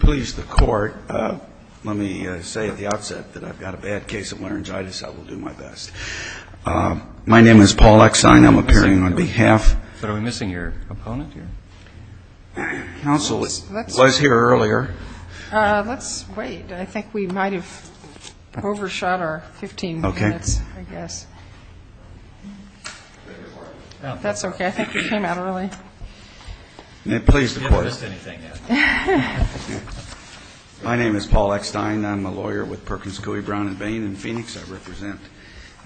Please the court. Let me say at the outset that I've got a bad case of laryngitis. I will do my best. My name is Paul Exine. I'm appearing on behalf. But are we missing your opponent here? Counsel was here earlier. Let's wait. I think we might have overshot our 15 minutes, I guess. That's okay. I think we came out early. Please the court. My name is Paul Exine. I'm a lawyer with Perkins Coie, Brown and Bain in Phoenix. I represent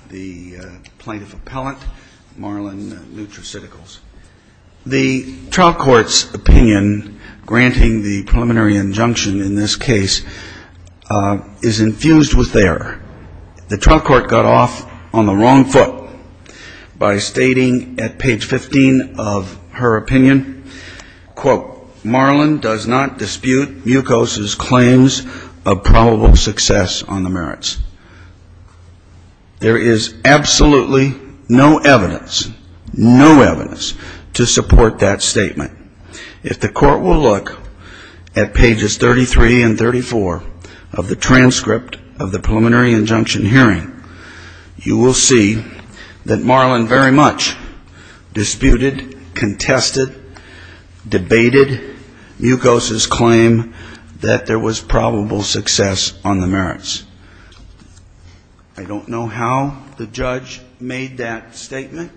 the plaintiff appellant, Marlyn Nutraceuticals. The trial court's opinion granting the preliminary injunction in this case is infused with error. The trial court got off on the wrong foot by stating at page 15 of her opinion, quote, Marlyn does not dispute Mucos's claims of probable success on the merits. There is absolutely no evidence, no evidence to support that statement. If the court will look at pages 33 and 34 of the transcript of the preliminary injunction hearing, you will see that Marlyn very much disputed, contested, debated Mucos's claim that there was probable success on the merits. I don't know how the judge made that statement.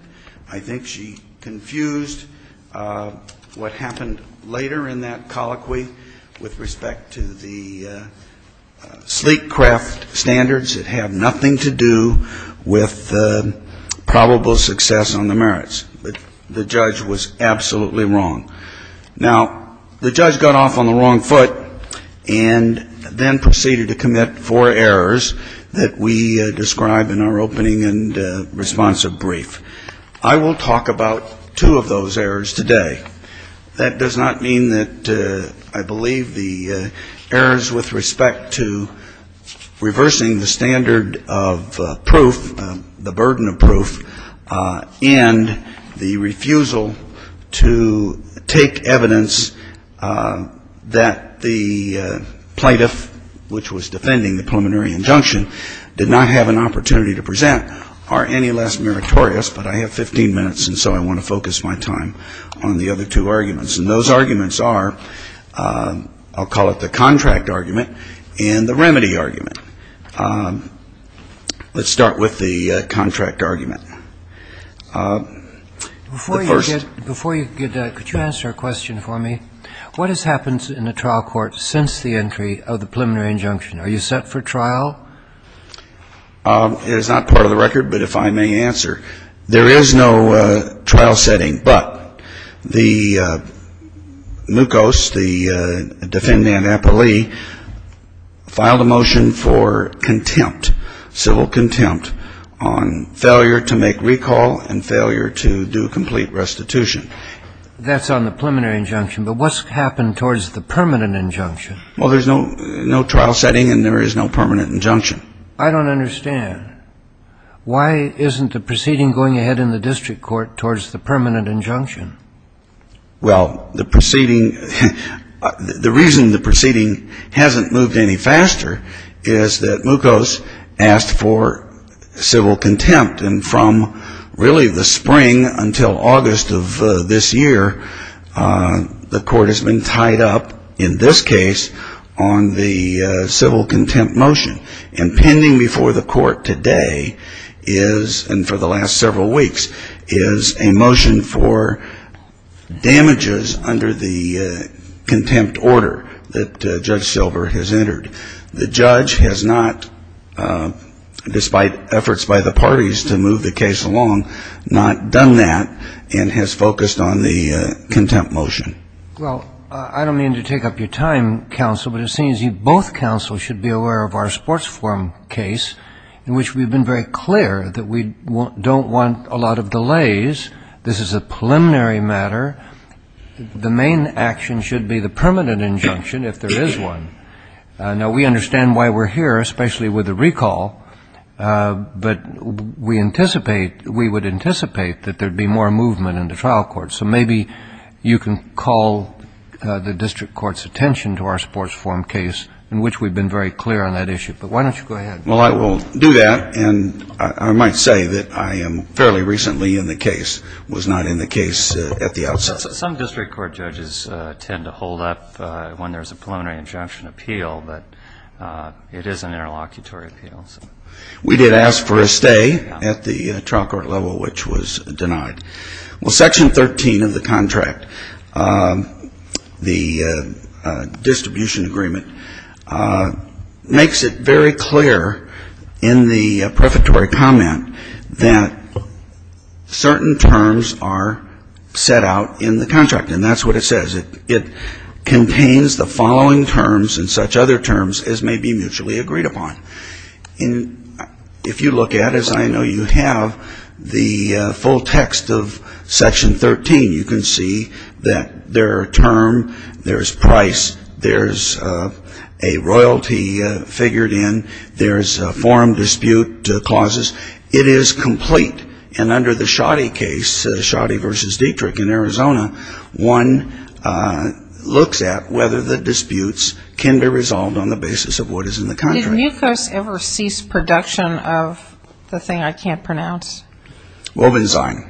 I think she confused what happened later in that colloquy with respect to the sleek craft standards that had nothing to do with probable success on the merits. But the judge was absolutely wrong. Now, the judge got off on the wrong foot and then proceeded to commit four errors that we describe in our opening and responsive brief. I will talk about two of those errors today. That does not mean that I believe the errors with respect to reversing the standard of proof, the burden of proof, and the refusal to take evidence that the plaintiff, which was defending the preliminary injunction, did not have an opportunity to present are any less meritorious. But I have 15 minutes, and so I want to focus my time on the other two arguments. And those arguments are, I'll call it the contract argument and the remedy argument. Let's start with the contract argument. The first. Before you get to that, could you answer a question for me? What has happened in the trial court since the entry of the preliminary injunction? Are you set for trial? It is not part of the record, but if I may answer. There is no trial setting, but the mucos, the defendant, Apolli, filed a motion for contempt, civil contempt, on failure to make recall and failure to do complete restitution. That's on the preliminary injunction. But what's happened towards the permanent injunction? Well, there's no trial setting and there is no permanent injunction. I don't understand. Why isn't the proceeding going ahead in the district court towards the permanent injunction? Well, the proceeding, the reason the proceeding hasn't moved any faster is that mucos asked for civil contempt. And from really the spring until August of this year, the court has been tied up, in this case, on the civil contempt motion. And pending before the court today is, and for the last several weeks, is a motion for damages under the contempt order that Judge Silver has entered. The judge has not, despite efforts by the parties to move the case along, not done that and has focused on the contempt motion. Well, I don't mean to take up your time, counsel, but it seems you both counsels should be aware of our sports forum case, in which we've been very clear that we don't want a lot of delays. This is a preliminary matter. The main action should be the permanent injunction, if there is one. Now, we understand why we're here, especially with the recall. But we anticipate, we would anticipate that there would be more movement in the trial court. So maybe you can call the district court's attention to our sports forum case, in which we've been very clear on that issue. But why don't you go ahead? Well, I will do that. And I might say that I am fairly recently in the case, was not in the case at the outset. Some district court judges tend to hold up when there's a preliminary injunction appeal, but it is an interlocutory appeal. We did ask for a stay at the trial court level, which was denied. Well, Section 13 of the contract, the distribution agreement, makes it very clear in the prefatory comment that certain terms are set out in the contract. And that's what it says. It contains the following terms and such other terms as may be mutually agreed upon. And if you look at it, as I know you have, the full text of Section 13, you can see that there are term, there's price, there's a royalty figured in, there's a forum dispute clauses. It is complete. And under the Schotty case, Schotty v. Dietrich in Arizona, one looks at whether the disputes can be resolved on the basis of what is in the contract. Did MUCOS ever cease production of the thing I can't pronounce? Wobbenzine.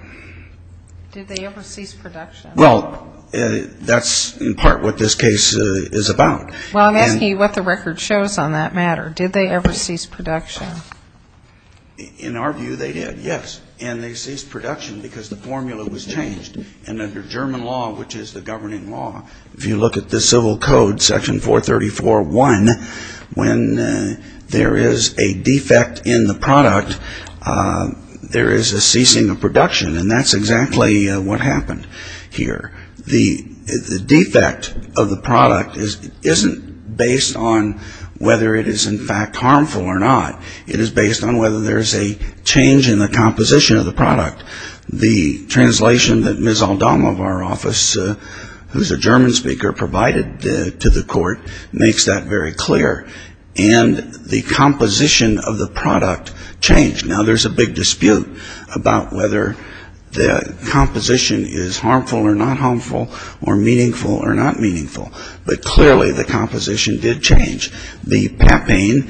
Did they ever cease production? Well, that's in part what this case is about. Well, I'm asking you what the record shows on that matter. Did they ever cease production? In our view, they did, yes. And they ceased production because the formula was changed. And under German law, which is the governing law, if you look at the civil code, Section 434.1, when there is a defect in the product, there is a ceasing of production. And that's exactly what happened here. The defect of the product isn't based on whether it is in fact harmful or not. It is based on whether there's a change in the composition of the product. The translation that Ms. Aldama of our office, who's a German speaker, provided to the court makes that very clear. And the composition of the product changed. Now, there's a big dispute about whether the composition is harmful or not harmful or meaningful or not meaningful. But clearly the composition did change. The papain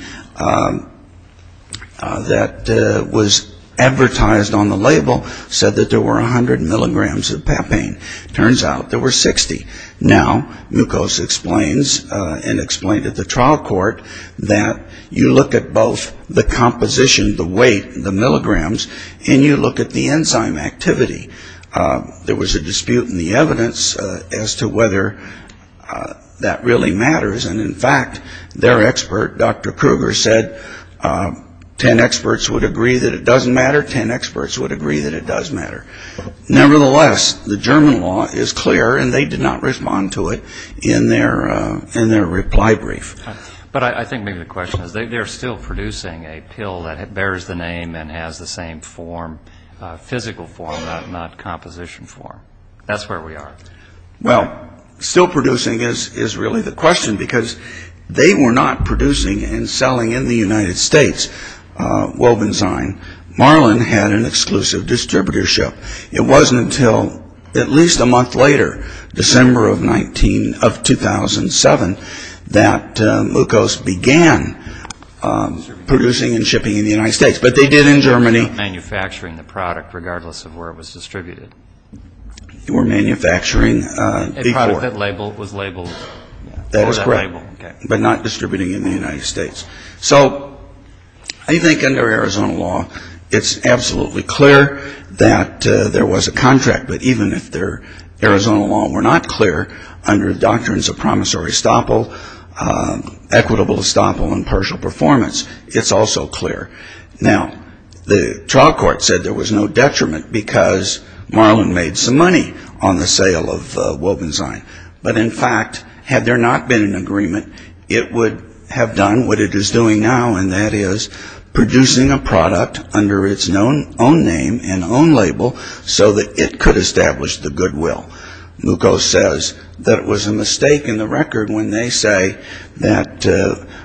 that was advertised on the label said that there were 100 milligrams of papain. Turns out there were 60. Now, mucose explains and explained at the trial court that you look at both the composition, the weight, the milligrams, and you look at the enzyme activity. There was a dispute in the evidence as to whether that really matters. And, in fact, their expert, Dr. Kruger, said 10 experts would agree that it doesn't matter, 10 experts would agree that it does matter. Nevertheless, the German law is clear, and they did not respond to it in their reply brief. But I think maybe the question is they're still producing a pill that bears the name and has the same physical form, not composition form. That's where we are. Well, still producing is really the question because they were not producing and selling in the United States. Wolfenstein Marlin had an exclusive distributorship. It wasn't until at least a month later, December of 2007, that mucose began producing and shipping in the United States. But they did in Germany. They were not manufacturing the product regardless of where it was distributed. They were manufacturing before. A product that was labeled. That was correct, but not distributing in the United States. So I think under Arizona law, it's absolutely clear that there was a contract. But even if Arizona law were not clear, under doctrines of promissory estoppel, equitable estoppel, and partial performance, it's also clear. Now, the trial court said there was no detriment because Marlin made some money on the sale of Wolfenstein. But in fact, had there not been an agreement, it would have done what it is doing now, and that is producing a product under its own name and own label so that it could establish the goodwill. Mucose says that it was a mistake in the record when they say that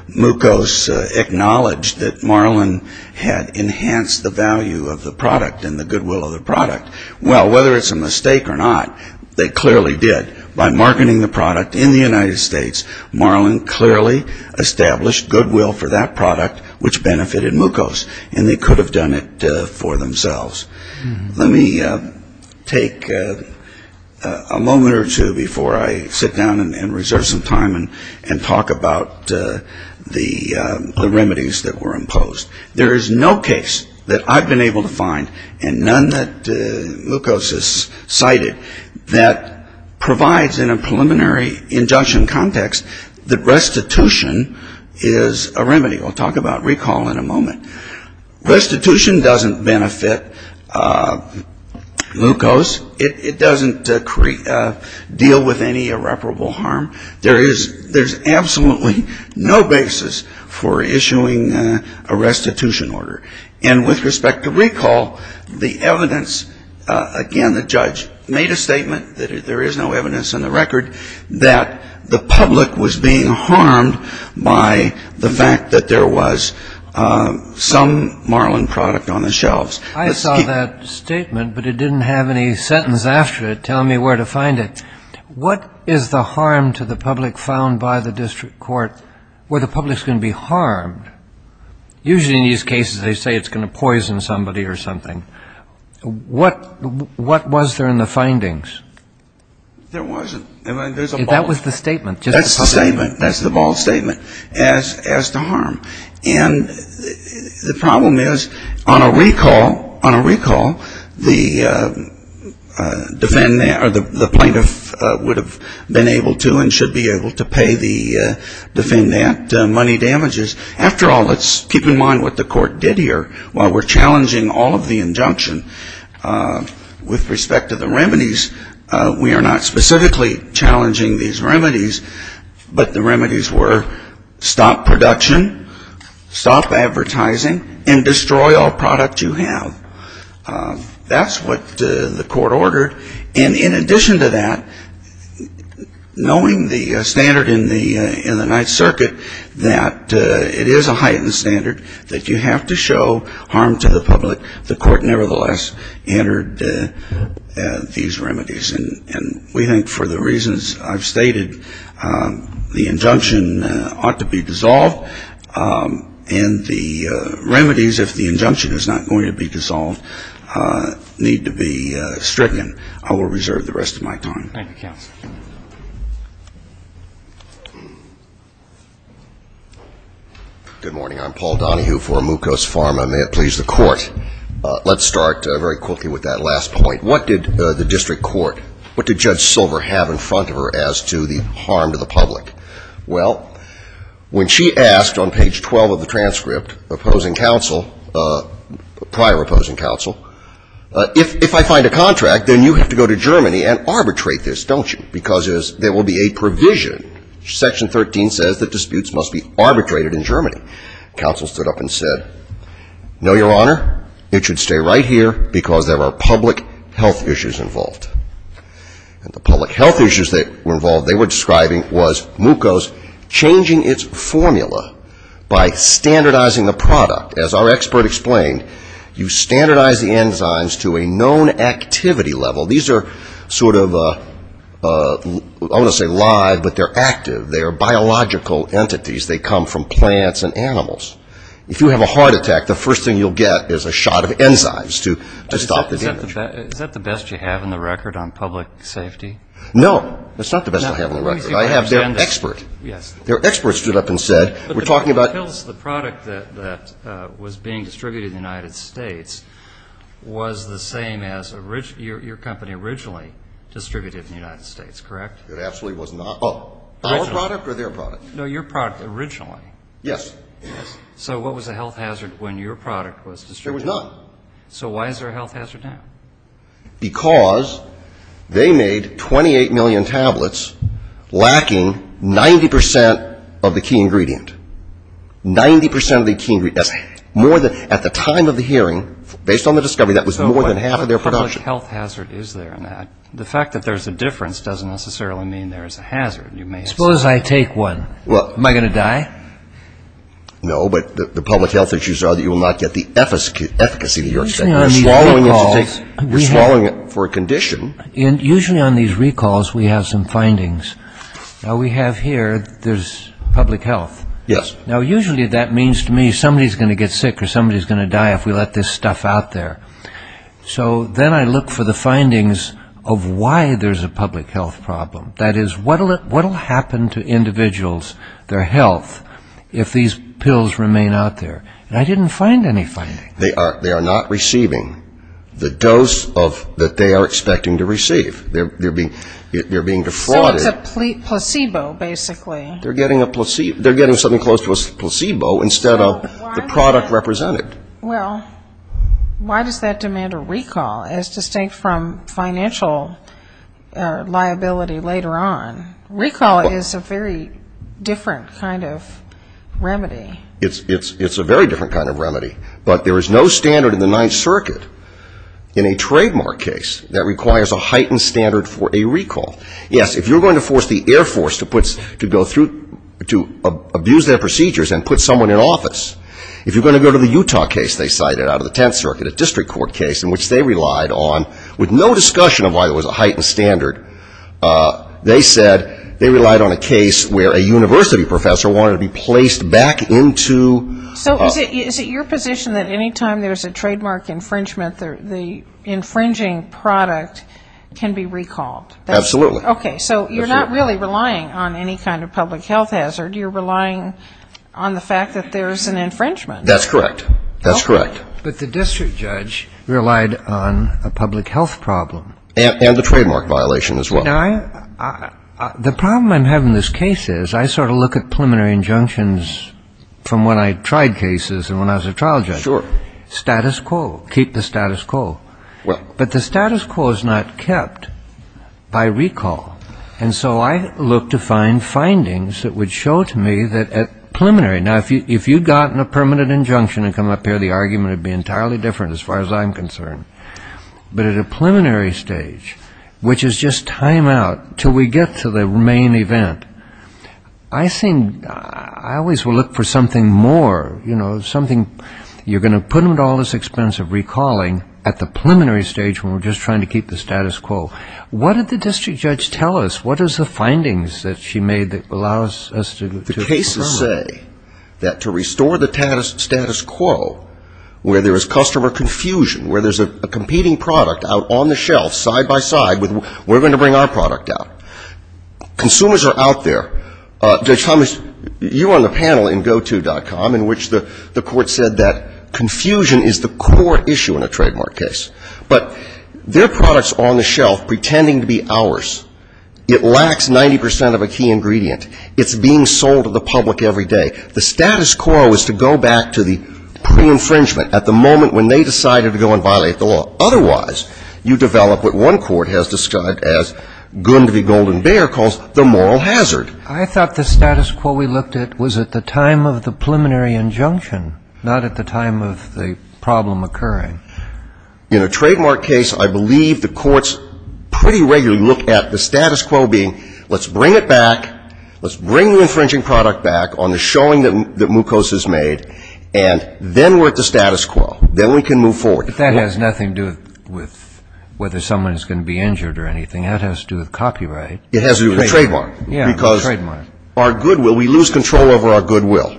mucose acknowledged that Marlin had enhanced the value of the product and the goodwill of the product. Well, whether it's a mistake or not, they clearly did. By marketing the product in the United States, Marlin clearly established goodwill for that product, which benefited mucose, and they could have done it for themselves. Let me take a moment or two before I sit down and reserve some time and talk about the remedies that were imposed. There is no case that I've been able to find, and none that mucose has cited, that provides in a preliminary injunction context that restitution is a remedy. We'll talk about recall in a moment. Restitution doesn't benefit mucose. It doesn't deal with any irreparable harm. There is absolutely no basis for issuing a restitution order. And with respect to recall, the evidence, again, the judge made a statement that there is no evidence in the record that the public was being harmed by the fact that there was some Marlin product on the shelves. I saw that statement, but it didn't have any sentence after it telling me where to find it. What is the harm to the public found by the district court where the public is going to be harmed? Usually in these cases they say it's going to poison somebody or something. What was there in the findings? There wasn't. That was the statement. That's the statement. That's the bold statement as to harm. And the problem is on a recall, on a recall, the defendant or the plaintiff would have been able to and should be able to pay the defendant money damages. After all, let's keep in mind what the court did here. While we're challenging all of the injunction, with respect to the remedies, we are not specifically challenging these remedies, but the remedies were stop production, stop advertising, and destroy all product you have. That's what the court ordered. And in addition to that, knowing the standard in the Ninth Circuit that it is a heightened standard, that you have to show harm to the public, the court nevertheless entered these remedies. And we think for the reasons I've stated, the injunction ought to be dissolved, and the remedies, if the injunction is not going to be dissolved, need to be stricken. I will reserve the rest of my time. Thank you, counsel. Good morning. I'm Paul Donohue for Mucos Pharma. May it please the court. Let's start very quickly with that last point. What did the district court, what did Judge Silver have in front of her as to the harm to the public? Well, when she asked on page 12 of the transcript, opposing counsel, prior opposing counsel, if I find a contract, then you have to go to Germany and arbitrate this, don't you? Because there will be a provision. Section 13 says that disputes must be arbitrated in Germany. Counsel stood up and said, no, Your Honor, it should stay right here, because there are public health issues involved. And the public health issues that were involved they were describing was Mucos changing its formula by standardizing the product. As our expert explained, you standardize the enzymes to a known activity level. These are sort of, I don't want to say live, but they're active. They are biological entities. They come from plants and animals. If you have a heart attack, the first thing you'll get is a shot of enzymes to stop the damage. Is that the best you have in the record on public safety? No. That's not the best I have on the record. I have their expert. Their expert stood up and said, we're talking about. So it tells the product that was being distributed in the United States was the same as your company originally distributed in the United States, correct? It absolutely was not. Our product or their product? No, your product originally. Yes. So what was the health hazard when your product was distributed? There was none. So why is there a health hazard now? Because they made 28 million tablets lacking 90% of the key ingredient. 90% of the key ingredient. At the time of the hearing, based on the discovery, that was more than half of their production. So what public health hazard is there in that? The fact that there's a difference doesn't necessarily mean there's a hazard, you may say. Suppose I take one. Am I going to die? No, but the public health issues are that you will not get the efficacy that you're expecting. You're swallowing it for a condition. Usually on these recalls we have some findings. Now we have here there's public health. Yes. Now usually that means to me somebody's going to get sick or somebody's going to die if we let this stuff out there. So then I look for the findings of why there's a public health problem. That is, what will happen to individuals, their health, if these pills remain out there? And I didn't find any findings. They are not receiving the dose that they are expecting to receive. They're being defrauded. So it's a placebo, basically. They're getting something close to a placebo instead of the product represented. Well, why does that demand a recall, as distinct from financial liability later on? Recall is a very different kind of remedy. It's a very different kind of remedy. But there is no standard in the Ninth Circuit in a trademark case that requires a heightened standard for a recall. Yes, if you're going to force the Air Force to abuse their procedures and put someone in office, if you're going to go to the Utah case they cited out of the Tenth Circuit, a district court case in which they relied on, with no discussion of why there was a heightened standard, they said they relied on a case where a university professor wanted to be placed back into. So is it your position that any time there's a trademark infringement, the infringing product can be recalled? Absolutely. Okay. So you're not really relying on any kind of public health hazard. You're relying on the fact that there's an infringement. That's correct. That's correct. But the district judge relied on a public health problem. And the trademark violation as well. Now, the problem I'm having in this case is I sort of look at preliminary injunctions from when I tried cases and when I was a trial judge. Sure. Status quo. Keep the status quo. Well. But the status quo is not kept by recall. And so I look to find findings that would show to me that preliminary. Now, if you'd gotten a permanent injunction and come up here, the argument would be entirely different as far as I'm concerned. But at a preliminary stage, which is just time out until we get to the main event, I seem, I always will look for something more, you know, something you're going to put into all this expense of recalling at the preliminary stage when we're just trying to keep the status quo. What did the district judge tell us? What is the findings that she made that allow us to look to? The cases say that to restore the status quo where there is customer confusion, where there's a competing product out on the shelf side by side, we're going to bring our product out. Consumers are out there. Judge Thomas, you were on the panel in goto.com in which the court said that confusion is the core issue in a trademark case. But their products are on the shelf pretending to be ours. It lacks 90 percent of a key ingredient. It's being sold to the public every day. The status quo is to go back to the pre-infringement at the moment when they decided to go and violate the law. Otherwise, you develop what one court has described as Gund v. Golden Bear calls the moral hazard. I thought the status quo we looked at was at the time of the preliminary injunction, not at the time of the problem occurring. In a trademark case, I believe the courts pretty regularly look at the status quo being let's bring it back, let's bring the infringing product back on the showing that Mukos has made, and then we're at the status quo. Then we can move forward. But that has nothing to do with whether someone is going to be injured or anything. That has to do with copyright. It has to do with trademark. Yeah, trademark. Because our goodwill, we lose control over our goodwill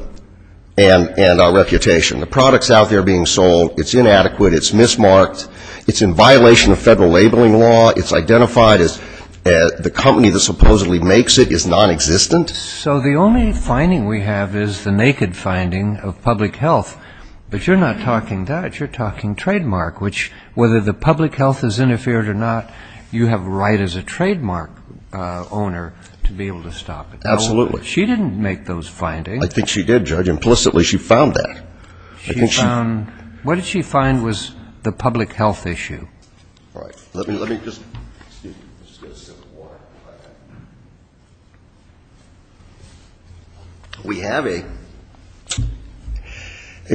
and our reputation. The product's out there being sold. It's inadequate. It's mismarked. It's in violation of federal labeling law. It's identified as the company that supposedly makes it is nonexistent. So the only finding we have is the naked finding of public health. But you're not talking that. You're talking trademark, which whether the public health has interfered or not, you have a right as a trademark owner to be able to stop it. Absolutely. She didn't make those findings. I think she did, Judge. Implicitly, she found that. What did she find was the public health issue? All right. Let me just get a sip of water. We have a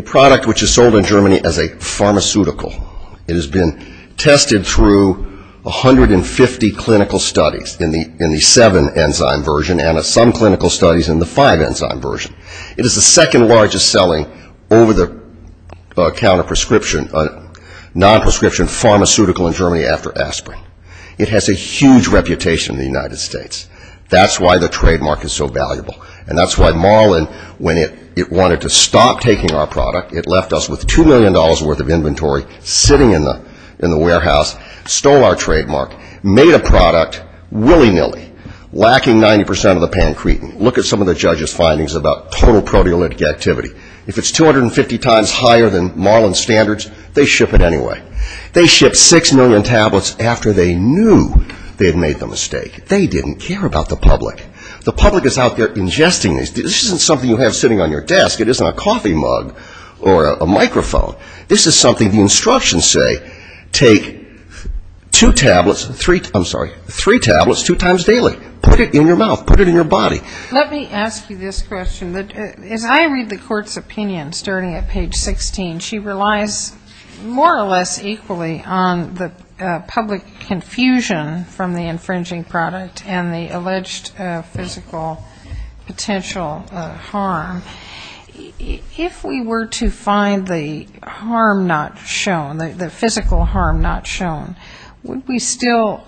product which is sold in Germany as a pharmaceutical. It has been tested through 150 clinical studies in the seven-enzyme version and some clinical studies in the five-enzyme version. It is the second largest selling over-the-counter prescription, non-prescription pharmaceutical in Germany after aspirin. It has a huge reputation in the United States. That's why the trademark is so valuable. And that's why Marlin, when it wanted to stop taking our product, it left us with $2 million worth of inventory sitting in the warehouse, stole our trademark, made a product willy-nilly, lacking 90% of the pancretin. Look at some of the judge's findings about total proteolytic activity. If it's 250 times higher than Marlin standards, they ship it anyway. They ship 6 million tablets after they knew they had made the mistake. They didn't care about the public. The public is out there ingesting these. This isn't something you have sitting on your desk. It isn't a coffee mug or a microphone. This is something the instructions say, take two tablets, I'm sorry, three tablets two times daily. Put it in your mouth. Put it in your body. Let me ask you this question. As I read the court's opinion starting at page 16, she relies more or less equally on the public confusion from the infringing product and the alleged physical potential harm. If we were to find the harm not shown, the physical harm not shown, would we still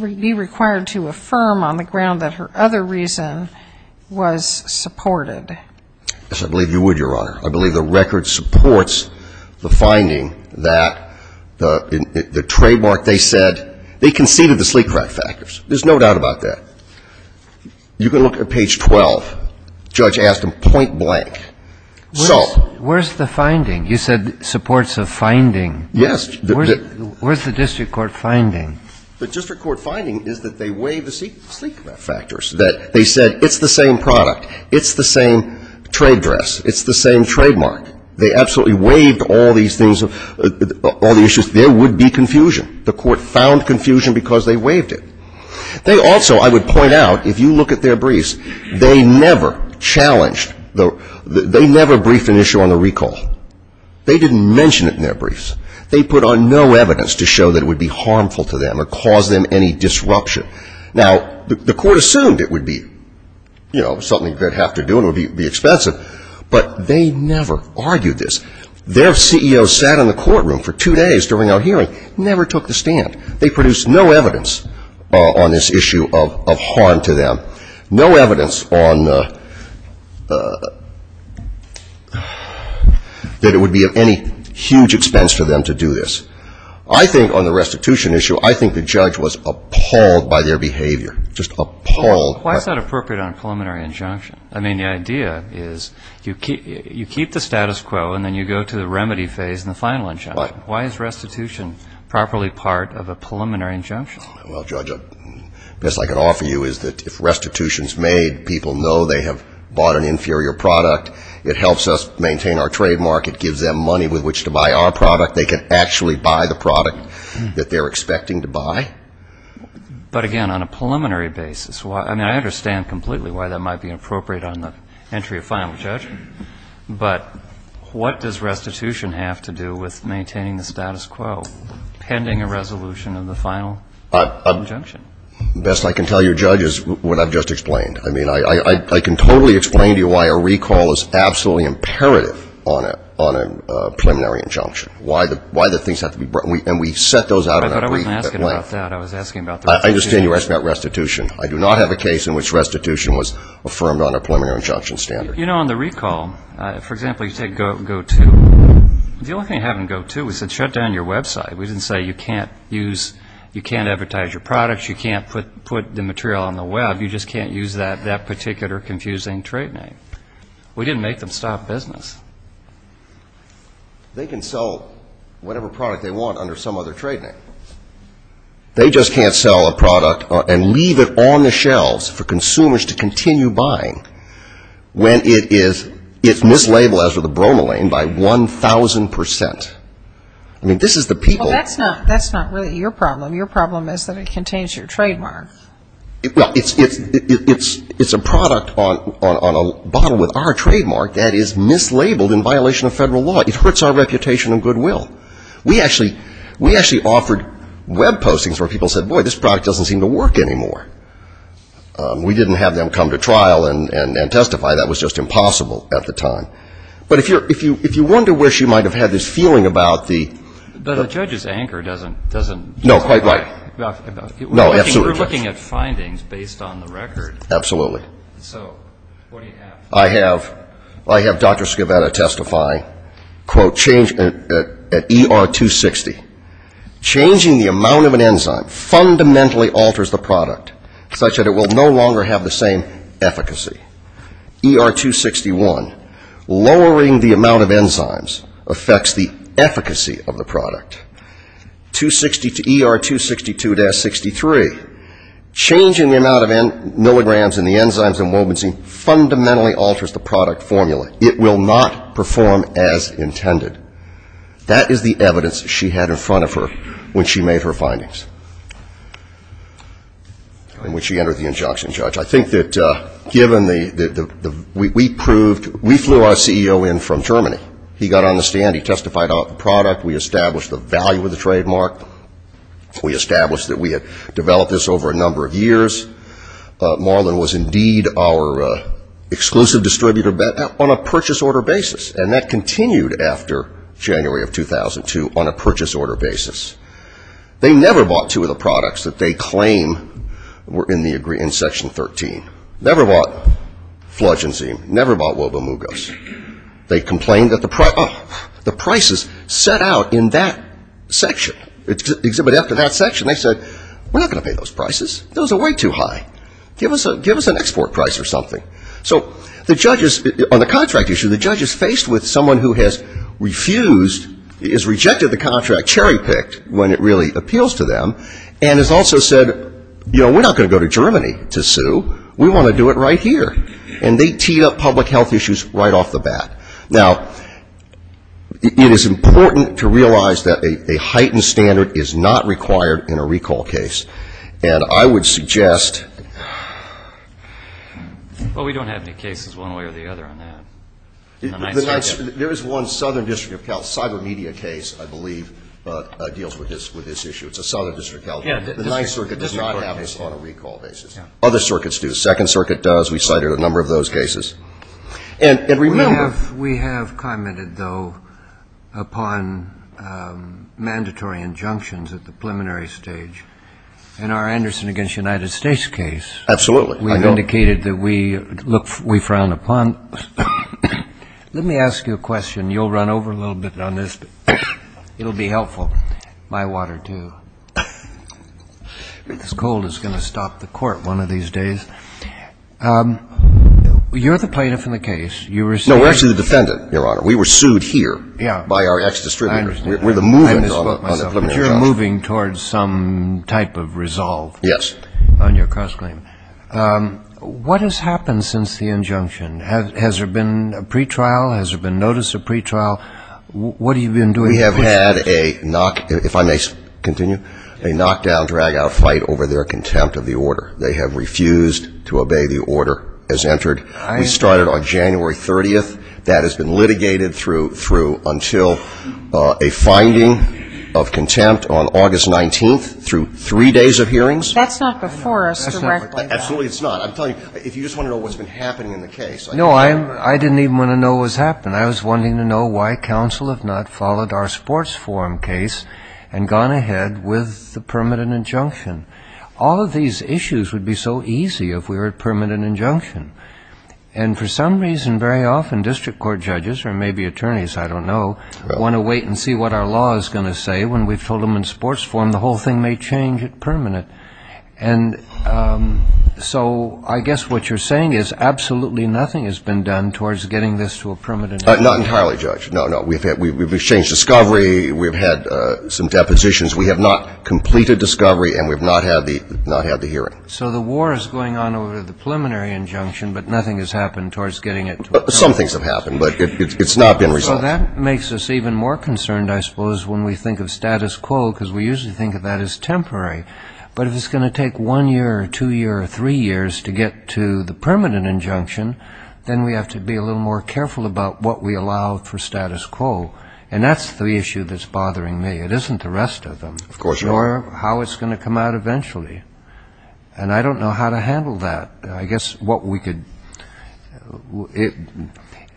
be required to affirm on the ground that her other reason was supported? Yes, I believe you would, Your Honor. I believe the record supports the finding that the trademark they said, they conceded the sleep-crack factors. There's no doubt about that. You can look at page 12. Judge asked them point blank. Where's the finding? You said supports a finding. Yes. Where's the district court finding? The district court finding is that they waived the sleep-crack factors, that they said it's the same product. It's the same trade dress. It's the same trademark. They absolutely waived all these things, all the issues. There would be confusion. The court found confusion because they waived it. They also, I would point out, if you look at their briefs, they never challenged, they never briefed an issue on the recall. They didn't mention it in their briefs. They put on no evidence to show that it would be harmful to them or cause them any disruption. Now, the court assumed it would be, you know, something they'd have to do and it would be expensive, but they never argued this. Their CEO sat in the courtroom for two days during our hearing, never took the stand. They produced no evidence on this issue of harm to them, no evidence on that it would be of any huge expense for them to do this. I think on the restitution issue, I think the judge was appalled by their behavior, just appalled. Why is that appropriate on a preliminary injunction? I mean, the idea is you keep the status quo and then you go to the remedy phase and the final injunction. Right. Why is restitution properly part of a preliminary injunction? Well, Judge, the best I can offer you is that if restitution is made, people know they have bought an inferior product. It helps us maintain our trademark. It gives them money with which to buy our product. They can actually buy the product that they're expecting to buy. But, again, on a preliminary basis, I mean, Judge. But what does restitution have to do with maintaining the status quo pending a resolution of the final injunction? The best I can tell you, Judge, is what I've just explained. I mean, I can totally explain to you why a recall is absolutely imperative on a preliminary injunction, why the things have to be brought. And we set those out in a brief at length. But I wasn't asking about that. I was asking about the restitution. I understand you're asking about restitution. I do not have a case in which restitution was affirmed on a preliminary injunction You know, on the recall, for example, you take GoTo. The only thing to have in GoTo is to shut down your website. We didn't say you can't use, you can't advertise your products, you can't put the material on the web, you just can't use that particular confusing trade name. We didn't make them stop business. They can sell whatever product they want under some other trade name. They just can't sell a product and leave it on the shelves for consumers to continue buying when it is mislabeled, as with the bromelain, by 1,000%. I mean, this is the people. Well, that's not really your problem. Your problem is that it contains your trademark. Well, it's a product on a bottle with our trademark that is mislabeled in violation of federal law. It hurts our reputation and goodwill. We actually offered web postings where people said, boy, this product doesn't seem to work anymore. We didn't have them come to trial and testify. That was just impossible at the time. But if you wonder where she might have had this feeling about the ‑‑ But the judge's anchor doesn't ‑‑ No, quite right. We're looking at findings based on the record. Absolutely. So what do you have? I have Dr. Scavetta testify, quote, at ER 260, changing the amount of an enzyme fundamentally alters the product, such that it will no longer have the same efficacy. ER 261, lowering the amount of enzymes affects the efficacy of the product. ER 262‑63, changing the amount of milligrams in the enzymes and wobensine fundamentally alters the product formula. It will not perform as intended. That is the evidence she had in front of her when she made her findings, and when she entered the injunction, Judge. I think that given the ‑‑ we flew our CEO in from Germany. He got on the stand. He testified on the product. We established the value of the trademark. We established that we had developed this over a number of years. Marlon was indeed our exclusive distributor on a purchase order basis, and that continued after January of 2002 on a purchase order basis. They never bought two of the products that they claim were in Section 13. Never bought Fludge Enzyme. Never bought Wobemugas. They complained that the prices set out in that section. Exhibited after that section, they said, we're not going to pay those prices. Those are way too high. Give us an export price or something. So the judges on the contract issue, the judge is faced with someone who has refused, has rejected the contract, cherry picked when it really appeals to them, and has also said, you know, we're not going to go to Germany to sue. We want to do it right here. And they teed up public health issues right off the bat. Now, it is important to realize that a heightened standard is not required in a recall case, and I would suggest. Well, we don't have any cases one way or the other on that. There is one Southern District of Health cyber media case I believe deals with this issue. It's a Southern District of Health. The Ninth Circuit does not have this on a recall basis. Other circuits do. Second Circuit does. We cited a number of those cases. And remember. We have commented, though, upon mandatory injunctions at the preliminary stage. In our Anderson v. United States case. Absolutely. We indicated that we frowned upon. Let me ask you a question. You'll run over a little bit on this. It will be helpful. My water, too. It's cold. It's going to stop the court one of these days. You're the plaintiff in the case. No, we're actually the defendant, Your Honor. We were sued here by our ex-distributors. I understand. We're the movers on the preliminary trial. You're moving towards some type of resolve. Yes. On your cross-claim. What has happened since the injunction? Has there been a pretrial? Has there been notice of pretrial? What have you been doing? We have had a knock, if I may continue, a knockdown, drag-out fight over their contempt of the order. They have refused to obey the order as entered. We started on January 30th. That has been litigated through until a finding of contempt on August 19th through three days of hearings. That's not before us directly. Absolutely it's not. I'm telling you, if you just want to know what's been happening in the case. No, I didn't even want to know what's happened. I was wanting to know why counsel have not followed our sports forum case and gone ahead with the permanent injunction. All of these issues would be so easy if we were at permanent injunction. And for some reason very often district court judges or maybe attorneys, I don't know, want to wait and see what our law is going to say when we've told them in sports forum the whole thing may change at permanent. And so I guess what you're saying is absolutely nothing has been done towards getting this to a permanent injunction. Not entirely, Judge. No, no. We've changed discovery. We've had some depositions. We have not completed discovery and we have not had the hearing. So the war is going on over the preliminary injunction, but nothing has happened towards getting it to a permanent. Some things have happened, but it's not been resolved. So that makes us even more concerned, I suppose, when we think of status quo, because we usually think of that as temporary. But if it's going to take one year or two years or three years to get to the permanent injunction, then we have to be a little more careful about what we allow for status quo. And that's the issue that's bothering me. It isn't the rest of them. Of course not. Or how it's going to come out eventually. And I don't know how to handle that. I guess what we could do,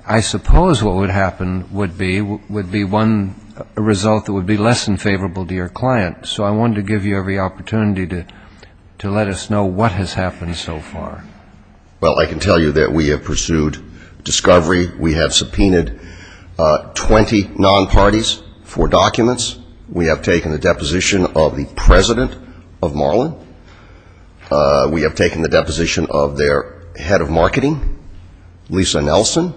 I suppose what would happen would be one result that would be less unfavorable to your client. So I wanted to give you every opportunity to let us know what has happened so far. Well, I can tell you that we have pursued discovery. We have subpoenaed 20 non-parties for documents. We have taken the deposition of the president of Marlin. We have taken the deposition of their head of marketing, Lisa Nelson.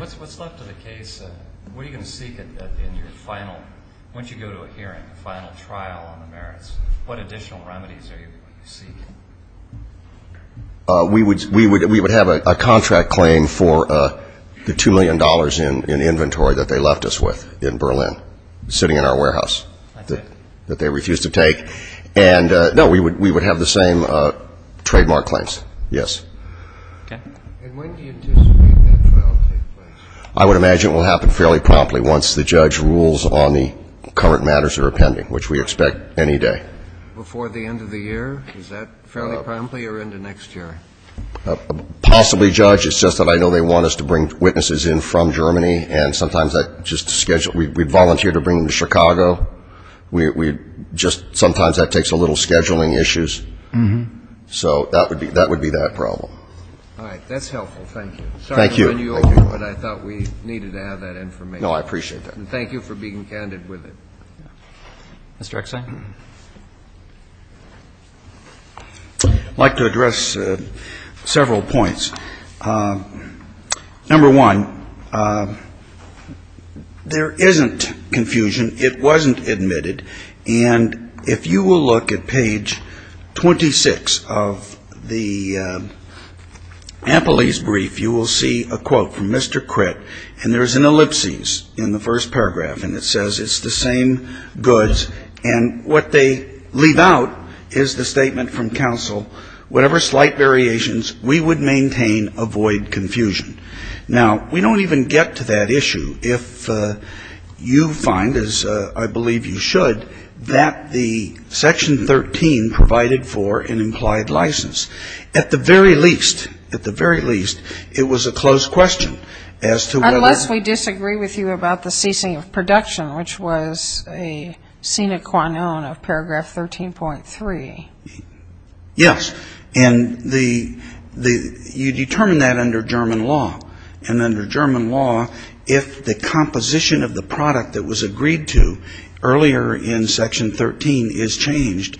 What's left of the case? What are you going to seek in your final, once you go to a hearing, a final trial on the merits? What additional remedies are you going to seek? We would have a contract claim for the $2 million in inventory that they left us with in Berlin, sitting in our warehouse, that they refused to take. And, no, we would have the same trademark claims, yes. Okay. And when do you anticipate that trial to take place? I would imagine it will happen fairly promptly once the judge rules on the current matters that are pending, which we expect any day. Before the end of the year? Is that fairly promptly or into next year? Possibly, Judge. It's just that I know they want us to bring witnesses in from Germany, and sometimes that's just a schedule. We volunteer to bring them to Chicago. We just sometimes that takes a little scheduling issues. So that would be that problem. All right. Thank you. Thank you. Sorry we're in New York, but I thought we needed to have that information. No, I appreciate that. And thank you for being candid with it. Mr. Exine. I'd like to address several points. Number one, there isn't confusion. It wasn't admitted. And if you will look at page 26 of the Ampelese brief, you will see a quote from Mr. Critt. And there's an ellipsis in the first paragraph, and it says it's the same goods. And what they leave out is the statement from counsel, whatever slight variations, we would maintain avoid confusion. Now, we don't even get to that issue if you find, as I believe you should, that the section 13 provided for an implied license. At the very least, at the very least, it was a closed question as to whether or not. It was the ceasing of production, which was a sine qua non of paragraph 13.3. Yes. And you determine that under German law. And under German law, if the composition of the product that was agreed to earlier in section 13 is changed,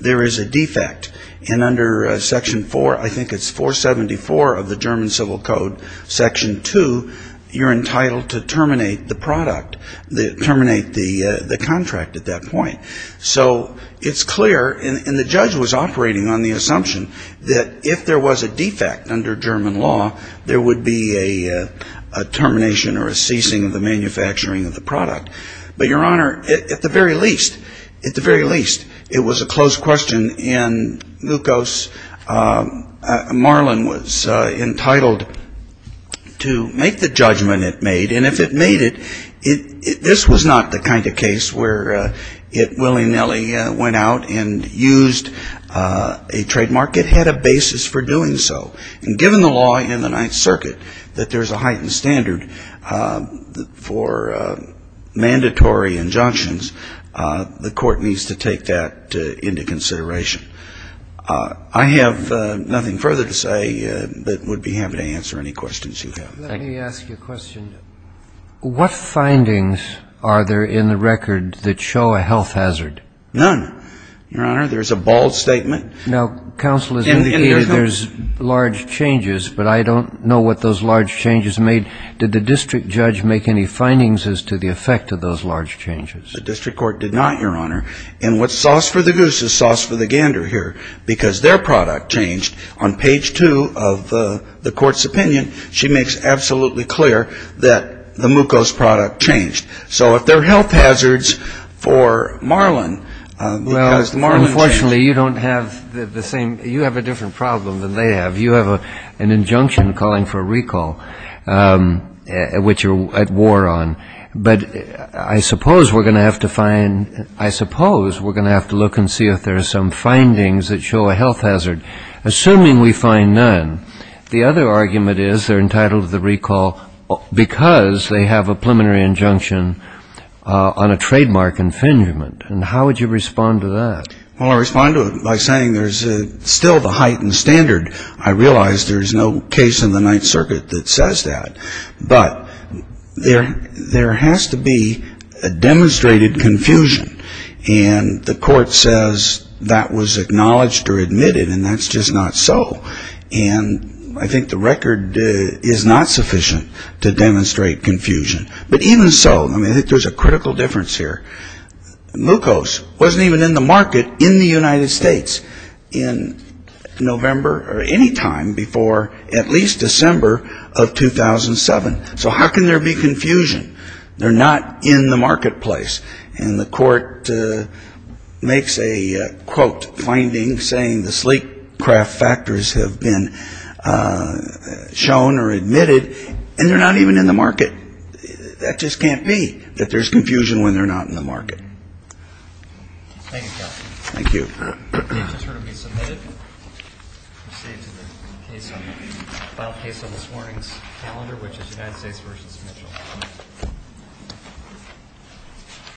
there is a defect. And under section 4, I think it's 474 of the German Civil Code, section 2, you're entitled to terminate the product, terminate the contract at that point. So it's clear, and the judge was operating on the assumption that if there was a defect under German law, there would be a termination or a ceasing of the manufacturing of the product. But, Your Honor, at the very least, at the very least, it was a closed question. And Lukos Marlin was entitled to make the judgment it made. And if it made it, this was not the kind of case where it willy-nilly went out and used a trademark. It had a basis for doing so. And given the law in the Ninth Circuit that there's a heightened standard for mandatory injunctions, the court needs to take that into consideration. I have nothing further to say but would be happy to answer any questions you have. Let me ask you a question. What findings are there in the record that show a health hazard? None, Your Honor. There's a bald statement. Now, Counsel, there's large changes, but I don't know what those large changes made. Did the district judge make any findings as to the effect of those large changes? The district court did not, Your Honor. And what's sauce for the goose is sauce for the gander here because their product changed. On page two of the court's opinion, she makes absolutely clear that the Lukos product changed. So if there are health hazards for Marlin because the Marlin changed. Well, unfortunately, you don't have the same you have a different problem than they have. You have an injunction calling for a recall, which you're at war on. But I suppose we're going to have to find ‑‑ I suppose we're going to have to look and see if there are some findings that show a health hazard. Assuming we find none, the other argument is they're entitled to the recall because they have a preliminary injunction on a trademark infringement. And how would you respond to that? Well, I respond to it by saying there's still the heightened standard. I realize there's no case in the Ninth Circuit that says that. But there has to be a demonstrated confusion. And the court says that was acknowledged or admitted, and that's just not so. And I think the record is not sufficient to demonstrate confusion. But even so, I mean, I think there's a critical difference here. Mucose wasn't even in the market in the United States in November or any time before at least December of 2007. So how can there be confusion? They're not in the marketplace. And the court makes a, quote, finding saying the sleep craft factors have been shown or admitted. And they're not even in the market. That just can't be that there's confusion when they're not in the market. Thank you, counsel. Thank you. The case is heard and resubmitted. We'll proceed to the final case on this morning's calendar, which is United States v. Mitchell.